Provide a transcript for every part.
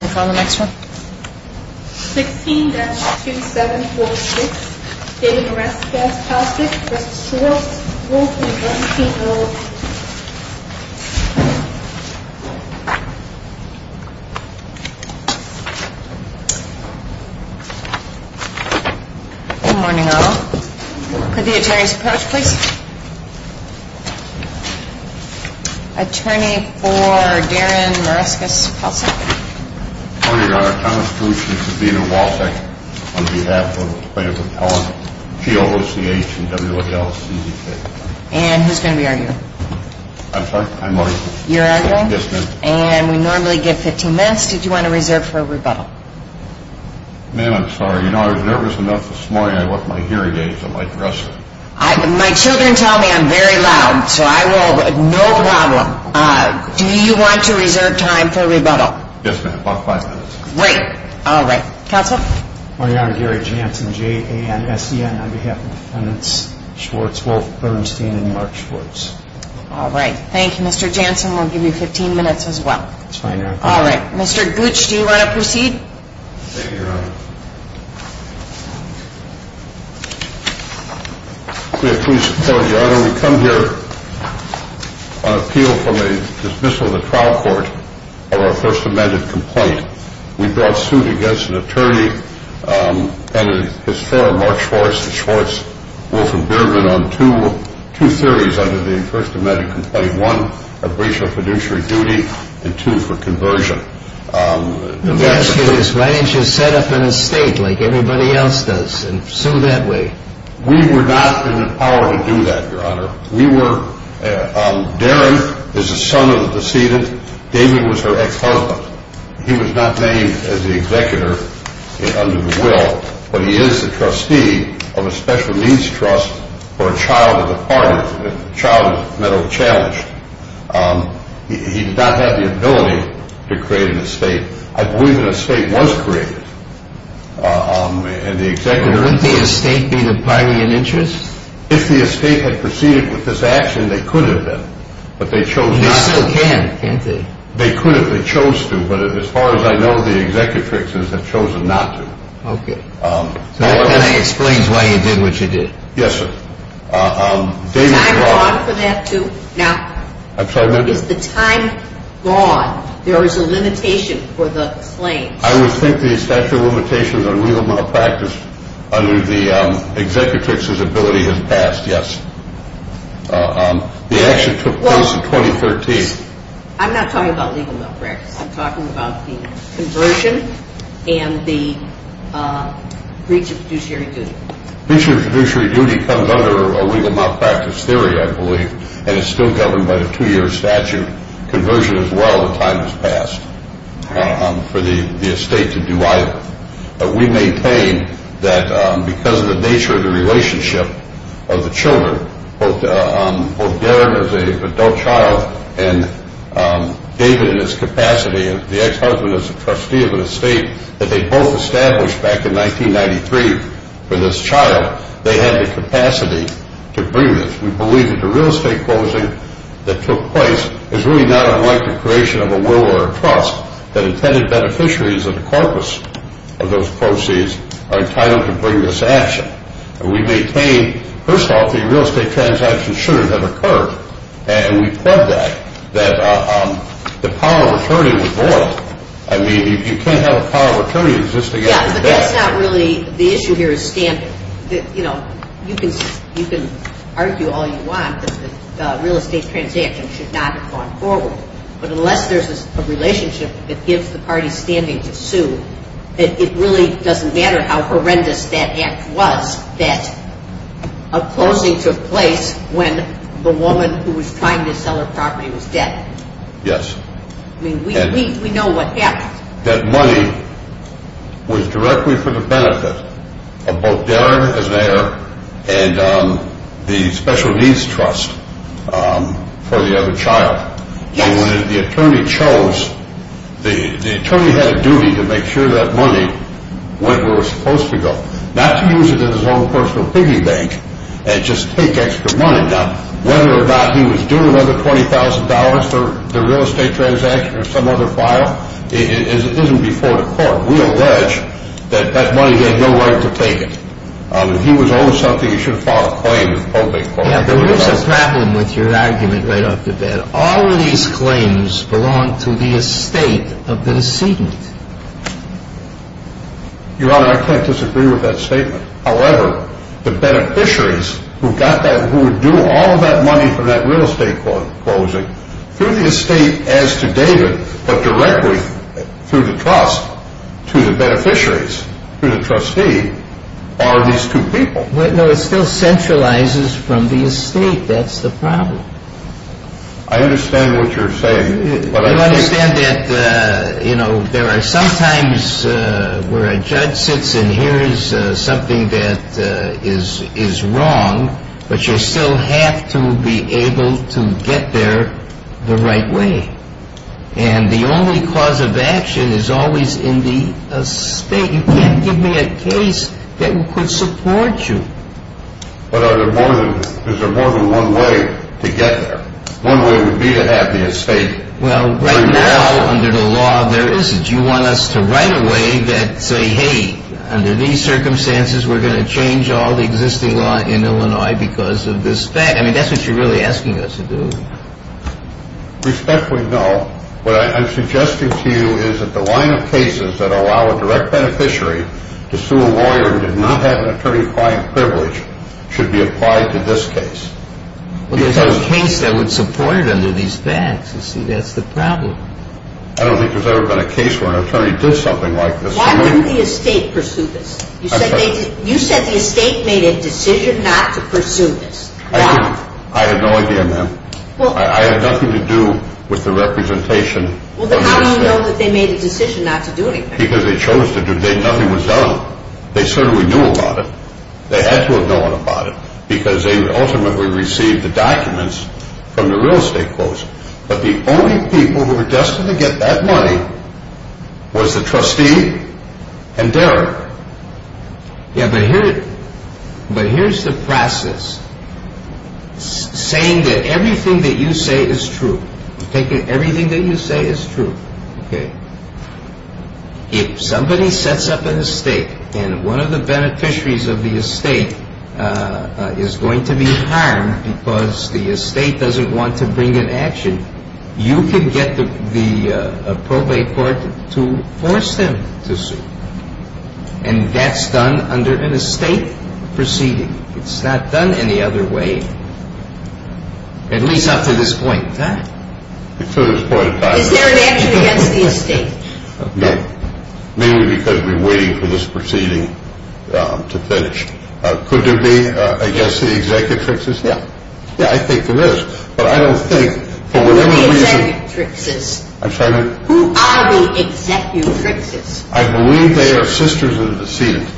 Can we call the next one? 16-2746, Darren Mareskas-Palcek v. Schwartz, Wolf & Bernstein, LLP Good morning, all. Could the attorneys approach, please? Attorney for Darren Mareskas-Palcek. Good morning, Your Honor. Thomas Boucher, Sabina Walsh, on behalf of the plaintiff appellant, GOCH and WALCDK. And who's going to be arguing? I'm sorry? I'm arguing. You're arguing? Yes, ma'am. And we normally get 15 minutes. Did you want to reserve for a rebuttal? Ma'am, I'm sorry. You know, I was nervous enough this morning I left my hearing aids on my dresser. My children tell me I'm very loud, so I will. No problem. Do you want to reserve time for a rebuttal? Yes, ma'am. About five minutes. Great. All right. Counsel? My Honor, Gary Jansen, J-A-N-S-E-N, on behalf of the defendants, Schwartz, Wolf, Bernstein, and Mark Schwartz. All right. Thank you, Mr. Jansen. We'll give you 15 minutes as well. That's fine, Your Honor. All right. Mr. Boucher, do you want to proceed? Thank you, Your Honor. May it please the Court, Your Honor, we come here on appeal from a dismissal of the trial court of our First Amendment complaint. We brought suit against an attorney and his fellow Mark Schwartz, Schwartz, Wolf, and Biermann on two theories under the First Amendment complaint. One, a breach of fiduciary duty, and two, for conversion. Let me ask you this. Why didn't you set up an estate like everybody else does and sue that way? We were not in the power to do that, Your Honor. We were – Darren is the son of the decedent. David was her ex-husband. He was not named as the executor under the will, but he is the trustee of a special needs trust for a child departed, a child that was challenged. He did not have the ability to create an estate. I believe an estate was created, and the executor… Couldn't the estate be the party in interest? If the estate had proceeded with this action, they could have been, but they chose not to. They still can, can't they? They could have. They chose to, but as far as I know, the executrix has chosen not to. Okay. So that kind of explains why you did what you did. Yes, sir. Is time gone for that too? Now… I'm sorry, ma'am. Is the time gone? There is a limitation for the claims. I would think the statute of limitations on legal malpractice under the executrix's ability has passed, yes. The action took place in 2013. I'm not talking about legal malpractice. I'm talking about the conversion and the breach of fiduciary duty. Breach of fiduciary duty comes under a legal malpractice theory, I believe, and it's still governed by the two-year statute. The time has passed for the estate to do either. But we maintain that because of the nature of the relationship of the children, both Darren as an adult child and David in his capacity, the ex-husband as a trustee of an estate that they both established back in 1993 for this child, they had the capacity to bring this. We believe that the real estate closing that took place is really not unlike the creation of a will or a trust that intended beneficiaries of the corpus of those proceeds are entitled to bring this action. We maintain, first off, that real estate transactions shouldn't have occurred, and we plug that, that the power of attorney was void. I mean, you can't have a power of attorney existing after that. Yeah, but that's not really the issue here is standard. You know, you can argue all you want that the real estate transaction should not have gone forward, but unless there's a relationship that gives the party standing to sue, it really doesn't matter how horrendous that act was that a closing took place when the woman who was trying to sell her property was dead. Yes. I mean, we know what happened. That money was directly for the benefit of both Darren as mayor and the special needs trust for the other child. Yes. And when the attorney chose, the attorney had a duty to make sure that money went where it was supposed to go, not to use it in his own personal piggy bank and just take extra money. Now, whether or not he was doing another $20,000 for the real estate transaction or some other file isn't before the court. We allege that that money had no right to take it. If he was owed something, he should have filed a claim with the public court. Yeah, but here's the problem with your argument right off the bat. All of these claims belong to the estate of the decedent. Your Honor, I can't disagree with that statement. However, the beneficiaries who got that, who would do all of that money for that real estate closing through the estate as to David, but directly through the trust to the beneficiaries, to the trustee, are these two people. No, it still centralizes from the estate. That's the problem. I understand what you're saying. You understand that, you know, there are some times where a judge sits and hears something that is wrong, but you still have to be able to get there the right way. And the only cause of action is always in the estate. You can't give me a case that could support you. But is there more than one way to get there? One way would be to have the estate. Well, right now, under the law, there isn't. You want us to write a way that say, hey, under these circumstances, we're going to change all the existing law in Illinois because of this fact. I mean, that's what you're really asking us to do. Respectfully, no. What I'm suggesting to you is that the line of cases that allow a direct beneficiary to sue a lawyer who did not have an attorney-applying privilege should be applied to this case. Well, there's no case that would support it under these facts. You see, that's the problem. I don't think there's ever been a case where an attorney did something like this. Why wouldn't the estate pursue this? You said the estate made a decision not to pursue this. Why? I have no idea, ma'am. I have nothing to do with the representation. Well, then how do you know that they made a decision not to do anything? Because they chose to do it. Nothing was done. They certainly knew about it. They had to have known about it because they ultimately received the documents from the real estate folks. But the only people who were destined to get that money was the trustee and Derek. Yeah, but here's the process. Saying that everything that you say is true. Taking everything that you say is true. If somebody sets up an estate and one of the beneficiaries of the estate is going to be harmed because the estate doesn't want to bring an action, you can get the probate court to force them to sue. And that's done under an estate proceeding. It's not done any other way, at least not to this point in time. Is there an action against the estate? No. Mainly because we're waiting for this proceeding to finish. Could there be, I guess, the executrixes? Yeah. Yeah, I think there is. Who are the executrixes? I believe they are sisters of the decedent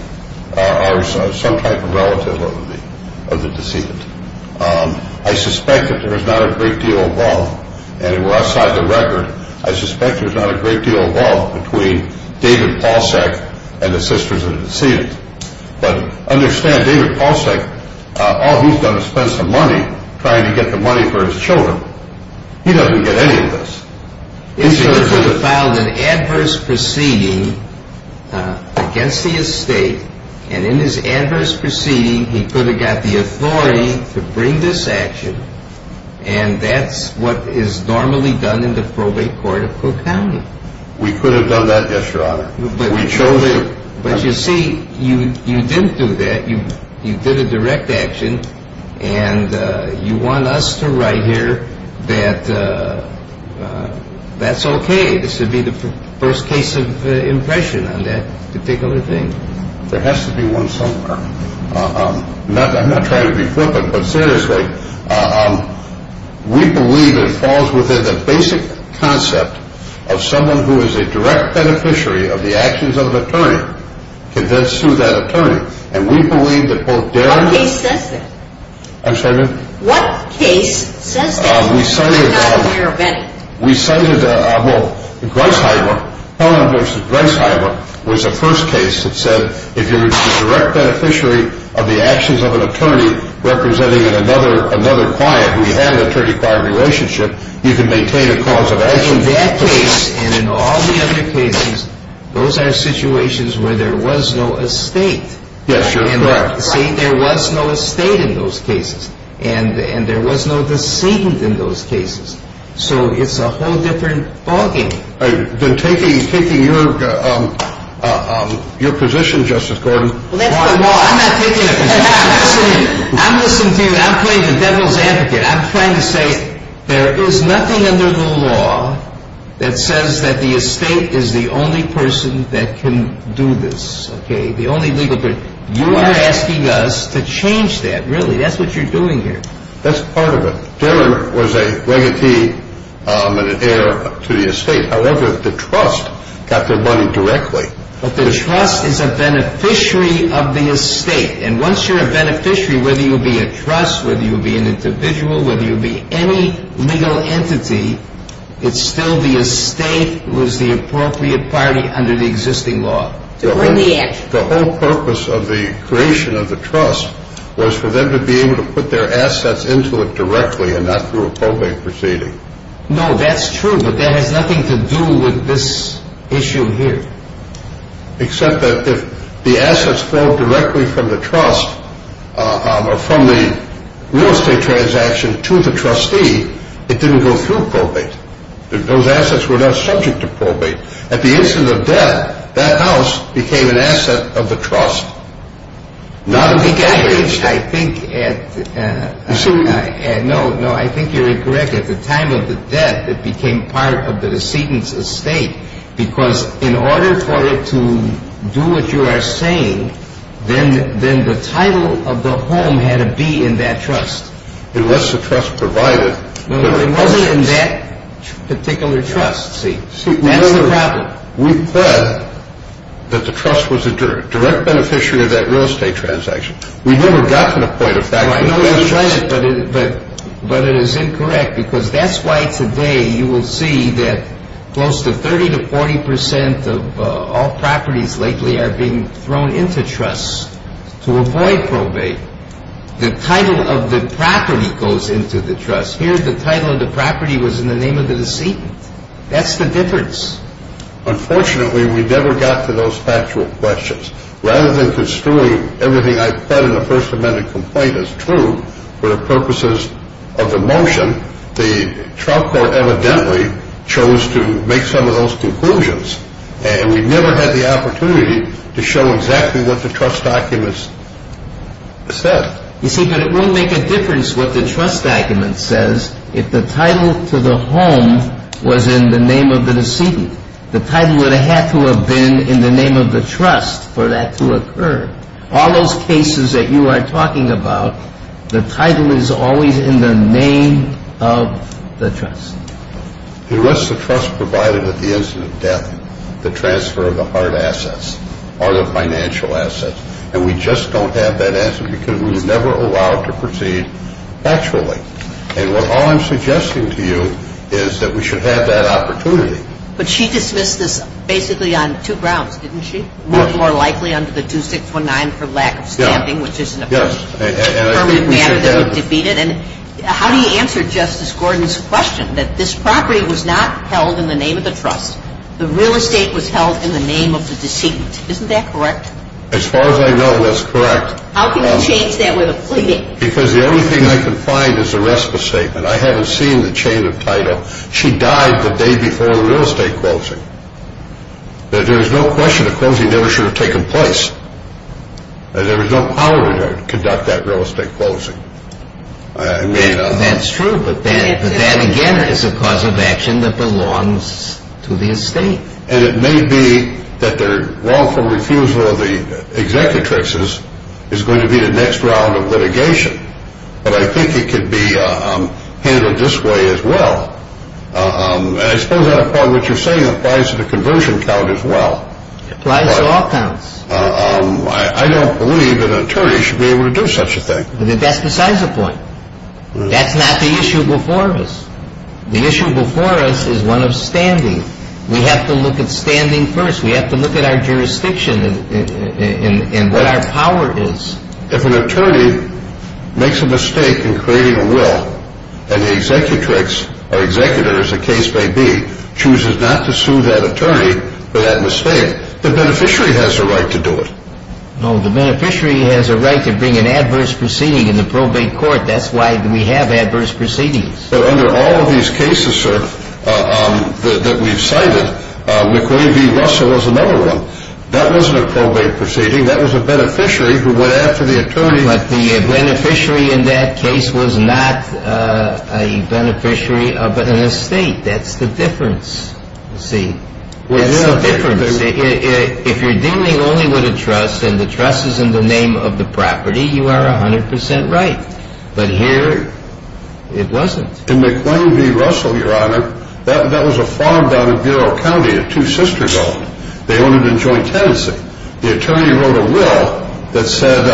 or some type of relative of the decedent. I suspect that there is not a great deal of love, and outside the record, I suspect there's not a great deal of love between David Paulsek and the sisters of the decedent. But understand, David Paulsek, all he's done is spend some money trying to get the money for his children. He doesn't get any of this. He could have filed an adverse proceeding against the estate, and in his adverse proceeding he could have got the authority to bring this action, and that's what is normally done in the probate court of Cook County. We could have done that, yes, Your Honor. But you see, you didn't do that. You did a direct action, and you want us to write here that that's okay. This would be the first case of impression on that particular thing. There has to be one somewhere. I'm not trying to be flippant, but seriously, we believe it falls within the basic concept of someone who is a direct beneficiary of the actions of an attorney can then sue that attorney. And we believe that both Darian and – What case says that? I'm sorry, ma'am? What case says that? We cited – I'm not a parabenic. We cited, well, Griceheimer. Powell v. Griceheimer was the first case that said if you're a direct beneficiary of the actions of an attorney representing another client who you have an attorney-client relationship, you can maintain a cause of action. In that case and in all the other cases, those are situations where there was no estate. Yes, Your Honor. See, there was no estate in those cases, and there was no deceit in those cases. So it's a whole different ballgame. Then taking your position, Justice Gordon – Well, that's the law. I'm not taking a position. I'm listening. I'm listening to you, and I'm playing the devil's advocate. I'm trying to say there is nothing under the law that says that the estate is the only person that can do this, okay? The only legal person. You are asking us to change that, really. That's what you're doing here. That's part of it. Darian was a regatee and an heir to the estate. However, the trust got their money directly. But the trust is a beneficiary of the estate. And once you're a beneficiary, whether you be a trust, whether you be an individual, whether you be any legal entity, it's still the estate who is the appropriate party under the existing law. The whole purpose of the creation of the trust was for them to be able to put their assets into it directly and not through a probate proceeding. No, that's true, but that has nothing to do with this issue here. Except that if the assets fall directly from the trust or from the real estate transaction to the trustee, it didn't go through probate. Those assets were not subject to probate. At the instant of death, that house became an asset of the trust. I think you're incorrect. At the time of the death, it became part of the decedent's estate. Because in order for it to do what you are saying, then the title of the home had to be in that trust. Unless the trust provided it. No, it wasn't in that particular trust. See, that's the problem. We thought that the trust was a direct beneficiary of that real estate transaction. We've never gotten a point of fact. But it is incorrect because that's why today you will see that close to 30 to 40 percent of all properties lately are being thrown into trusts to avoid probate. The title of the property goes into the trust. Here, the title of the property was in the name of the decedent. That's the difference. Unfortunately, we never got to those factual questions. Rather than construing everything I've said in the First Amendment complaint as true for the purposes of the motion, the trial court evidently chose to make some of those conclusions. And we never had the opportunity to show exactly what the trust documents said. You see, but it won't make a difference what the trust document says if the title to the home was in the name of the decedent. The title would have had to have been in the name of the trust for that to occur. All those cases that you are talking about, the title is always in the name of the trust. It was the trust provided at the instant of death, the transfer of the hard assets, all the financial assets. And we just don't have that answer because we were never allowed to proceed factually. And all I'm suggesting to you is that we should have that opportunity. But she dismissed this basically on two grounds, didn't she? More likely under the 2619 for lack of stamping, which isn't a permanent matter that would defeat it. And how do you answer Justice Gordon's question that this property was not held in the name of the trust? The real estate was held in the name of the decedent. Isn't that correct? As far as I know, that's correct. How can you change that with a plea? Because the only thing I can find is the rest of the statement. I haven't seen the chain of title. She died the day before the real estate closing. There's no question the closing never should have taken place. There was no power to conduct that real estate closing. That's true, but that again is a cause of action that belongs to the estate. And it may be that their wrongful refusal of the executrixes is going to be the next round of litigation. But I think it could be handled this way as well. And I suppose that's part of what you're saying applies to the conversion count as well. It applies to all counts. I don't believe an attorney should be able to do such a thing. But that's besides the point. That's not the issue before us. The issue before us is one of standing. We have to look at standing first. We have to look at our jurisdiction and what our power is. If an attorney makes a mistake in creating a will, and the executrix or executor, as the case may be, chooses not to sue that attorney for that mistake, the beneficiary has a right to do it. No, the beneficiary has a right to bring an adverse proceeding in the probate court. That's why we have adverse proceedings. But under all of these cases, sir, that we've cited, McCrae v. Russell is another one. That wasn't a probate proceeding. That was a beneficiary who went after the attorney. But the beneficiary in that case was not a beneficiary of an estate. That's the difference. See, that's the difference. If you're dealing only with a trust and the trust is in the name of the property, you are 100 percent right. But here it wasn't. In McCrae v. Russell, Your Honor, that was a farm down in Bureau County, a two-sister building. They owned it in joint tenancy. The attorney wrote a will that said,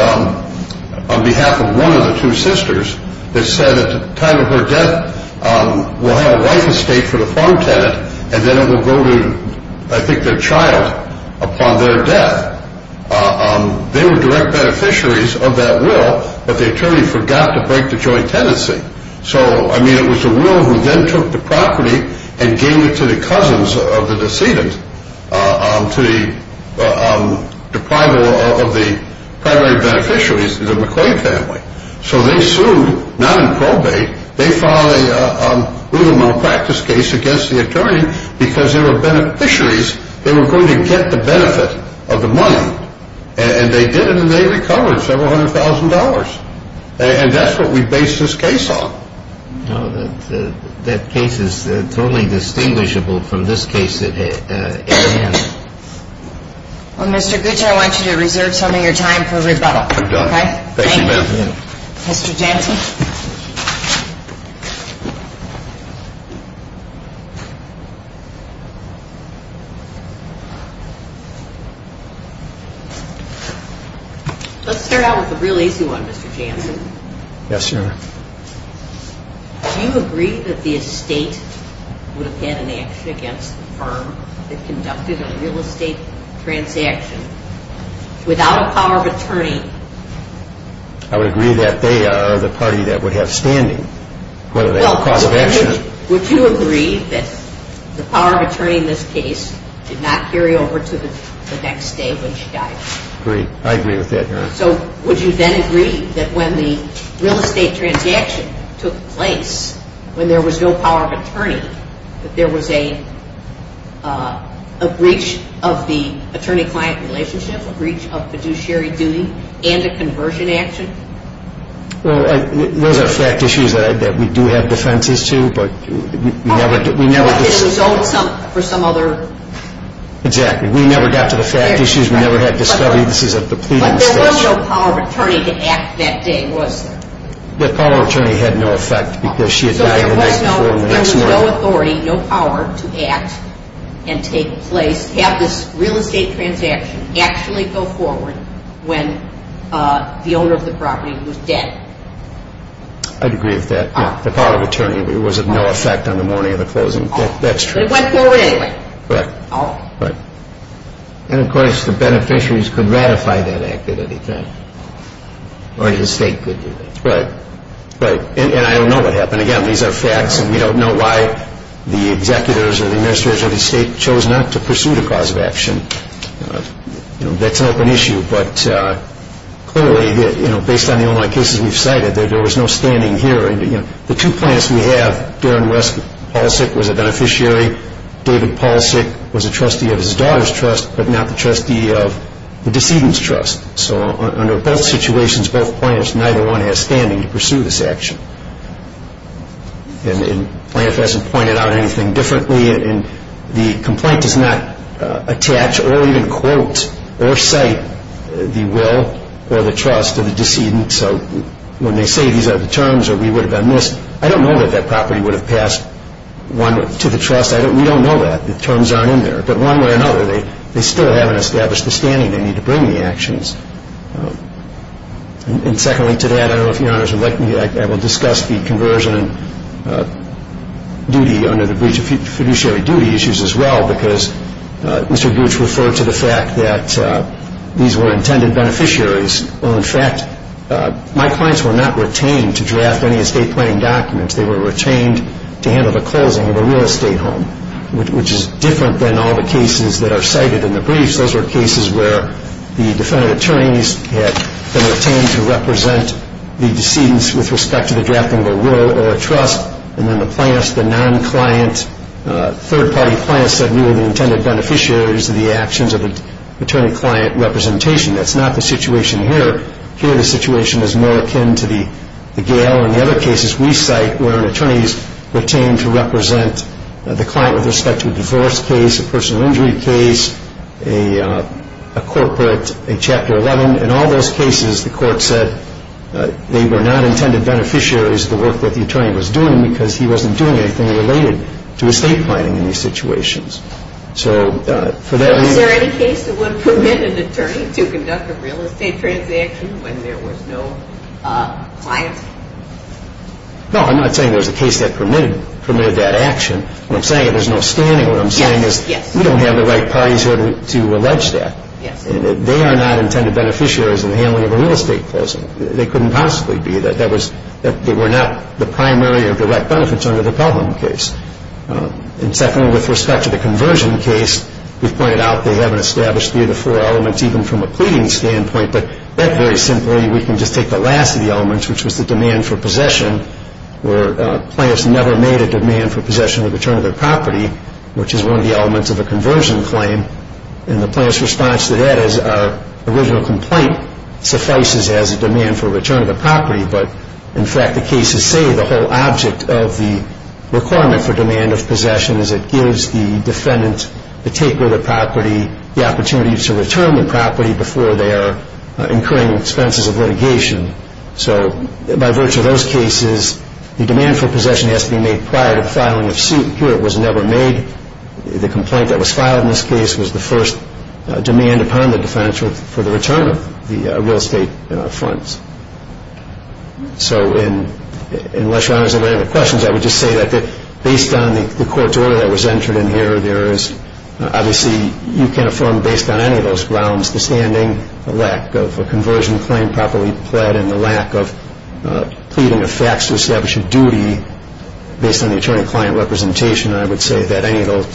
on behalf of one of the two sisters, that said at the time of her death, we'll have a life estate for the farm tenant and then it will go to, I think, their child upon their death. They were direct beneficiaries of that will, but the attorney forgot to break the joint tenancy. So, I mean, it was a will who then took the property and gave it to the cousins of the decedent, to the deprival of the primary beneficiaries, the McCrae family. So they sued, not in probate. They filed a rule of malpractice case against the attorney because they were beneficiaries. They were going to get the benefit of the money. And they did it and they recovered several hundred thousand dollars. And that's what we base this case on. No, that case is totally distinguishable from this case at hand. Well, Mr. Gooch, I want you to reserve some of your time for rebuttal. Thank you, ma'am. Mr. Jansen. Let's start out with a real easy one, Mr. Jansen. Yes, ma'am. Do you agree that the estate would have had an action against the firm that conducted a real estate transaction without a power of attorney? I would agree that they are the party that would have standing, whether they have a cause of action. Well, would you agree that the power of attorney in this case did not carry over to the next day when she died? Agree. I agree with that, ma'am. So would you then agree that when the real estate transaction took place, when there was no power of attorney, that there was a breach of the attorney-client relationship, a breach of fiduciary duty, and a conversion action? Well, those are fact issues that we do have defenses to, but we never... But it was owed for some other... Exactly. We never got to the fact issues. But there was no power of attorney to act that day, was there? The power of attorney had no effect because she had died the next morning. So there was no authority, no power to act and take place, have this real estate transaction actually go forward when the owner of the property was dead? I'd agree with that. The power of attorney was of no effect on the morning of the closing. But it went forward anyway. Correct. And, of course, the beneficiaries could ratify that act at any time, or the estate could do that. Right. Right. And I don't know what happened. Again, these are facts, and we don't know why the executors or the administrators of the estate chose not to pursue the cause of action. That's an open issue. But clearly, based on the online cases we've cited, there was no standing here. The two clients we have, Darren West Paulsik was a beneficiary, David Paulsik was a trustee of his daughter's trust, but not the trustee of the decedent's trust. So under both situations, both plaintiffs, neither one has standing to pursue this action. And Plaintiff hasn't pointed out anything differently, and the complaint does not attach or even quote or cite the will or the trust of the decedent. So when they say these are the terms or we would have been missed, I don't know that that property would have passed to the trust. We don't know that. The terms aren't in there. But one way or another, they still haven't established the standing they need to bring the actions. And secondly to that, I don't know if Your Honors would like me to discuss the conversion and duty under the breach of fiduciary duty issues as well, because Mr. Gooch referred to the fact that these were intended beneficiaries. Well, in fact, my clients were not retained to draft any estate planning documents. They were retained to handle the closing of a real estate home, which is different than all the cases that are cited in the briefs. Those were cases where the defendant attorneys had been retained to represent the decedents with respect to the drafting of a will or a trust, and then the non-client third-party plaintiffs said we were the intended beneficiaries of the actions of the attorney-client representation. That's not the situation here. Here the situation is more akin to the gale. Or in the other cases we cite where an attorney is retained to represent the client with respect to a divorce case, a personal injury case, a corporate, a Chapter 11. In all those cases, the court said they were not intended beneficiaries of the work that the attorney was doing because he wasn't doing anything related to estate planning in these situations. So for that reason... Is there any case that would permit an attorney to conduct a real estate transaction when there was no client? No, I'm not saying there's a case that permitted that action. What I'm saying is there's no standing. What I'm saying is we don't have the right parties here to allege that. They are not intended beneficiaries in the handling of a real estate closing. They couldn't possibly be. They were not the primary or direct benefits under the Pelham case. And secondly, with respect to the conversion case, we've pointed out they haven't established three of the four elements, even from a pleading standpoint. But that, very simply, we can just take the last of the elements, which was the demand for possession, where a client has never made a demand for possession or return of their property, which is one of the elements of a conversion claim. And the client's response to that is our original complaint suffices as a demand for return of the property. But, in fact, the cases say the whole object of the requirement for demand of possession is it gives the defendant the takeover of the property, the opportunity to return the property before they are incurring expenses of litigation. So by virtue of those cases, the demand for possession has to be made prior to the filing of suit. Here it was never made. The complaint that was filed in this case was the first demand upon the defendant for the return of the real estate funds. So unless Your Honors have any other questions, I would just say that based on the court's order that was entered in here, there is obviously you can affirm based on any of those grounds, the standing, the lack of a conversion claim properly pled, and the lack of pleading of facts to establish a duty based on the attorney-client representation. I would say that any of those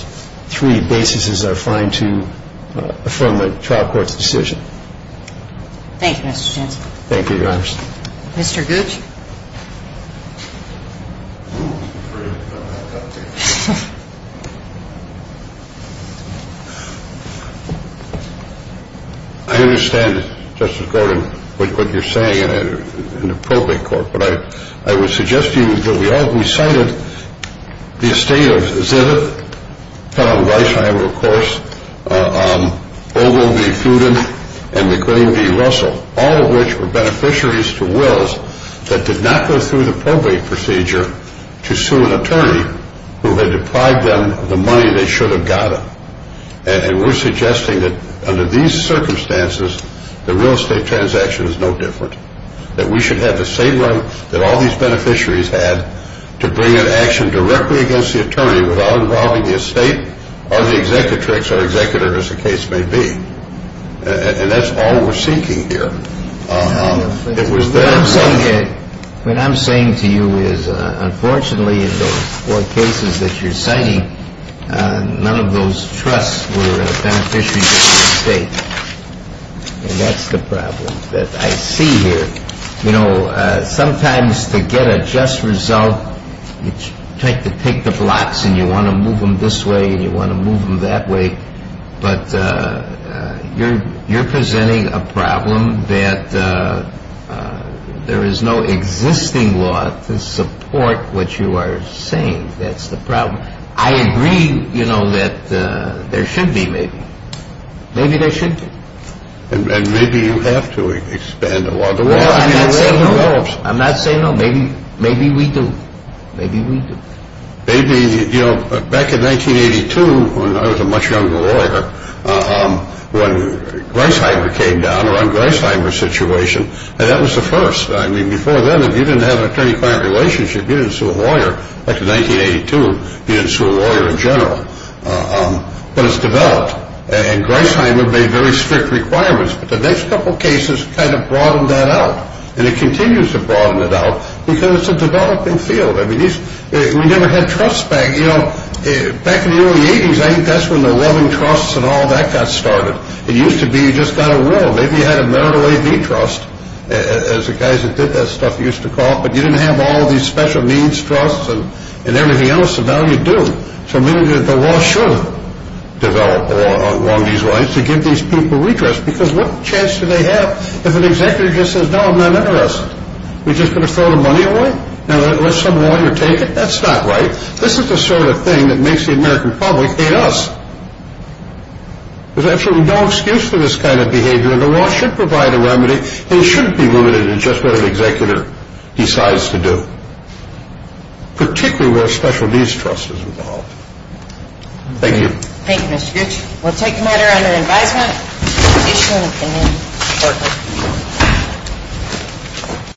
three basis are fine to affirm a trial court's decision. Thank you, Mr. Chancellor. Thank you, Your Honors. Mr. Gooch? I understand, Justice Gordon, what you're saying in the probate court, but I would suggest to you that we cited the estate of Zivit, Pellon Reichheimer, of course, Ogle v. Fooden, and McLean v. Russell, that did not go through the probate procedure to sue an attorney who had deprived them of the money they should have gotten. And we're suggesting that under these circumstances, the real estate transaction is no different, that we should have the same run that all these beneficiaries had to bring an action directly against the attorney without involving the estate or the executrix or executor, as the case may be. And that's all we're seeking here. What I'm saying to you is, unfortunately, in those four cases that you're citing, none of those trusts were beneficiaries of the estate. And that's the problem that I see here. You know, sometimes to get a just result, you try to pick the blocks and you want to move them this way and you want to move them that way, but you're presenting a problem that there is no existing law to support what you are saying. That's the problem. I agree, you know, that there should be, maybe. Maybe there should be. And maybe you have to expand the law. I'm not saying no. Maybe we do. Maybe we do. Maybe, you know, back in 1982, when I was a much younger lawyer, when Greisheimer came down around Greisheimer's situation, that was the first. I mean, before then, if you didn't have an attorney-client relationship, you didn't sue a lawyer. Back in 1982, you didn't sue a lawyer in general. But it's developed. And Greisheimer made very strict requirements. But the next couple of cases kind of broadened that out. And it continues to broaden it out because it's a developing field. I mean, we never had trusts back. You know, back in the early 80s, I think that's when the loving trusts and all that got started. It used to be you just got a will. Maybe you had a marital AV trust, as the guys that did that stuff used to call it. But you didn't have all these special needs trusts and everything else, and now you do. So maybe the law should develop along these lines to give these people redress because what chance do they have if an executive just says, no, I'm not interested? Are we just going to throw the money away? Now, let some lawyer take it. That's not right. This is the sort of thing that makes the American public hate us. There's absolutely no excuse for this kind of behavior. And the law should provide a remedy. It shouldn't be limited to just what an executive decides to do, particularly where a special needs trust is involved. Thank you. Thank you, Mr. Gooch. We'll take a matter under advisement. Issue an amendment.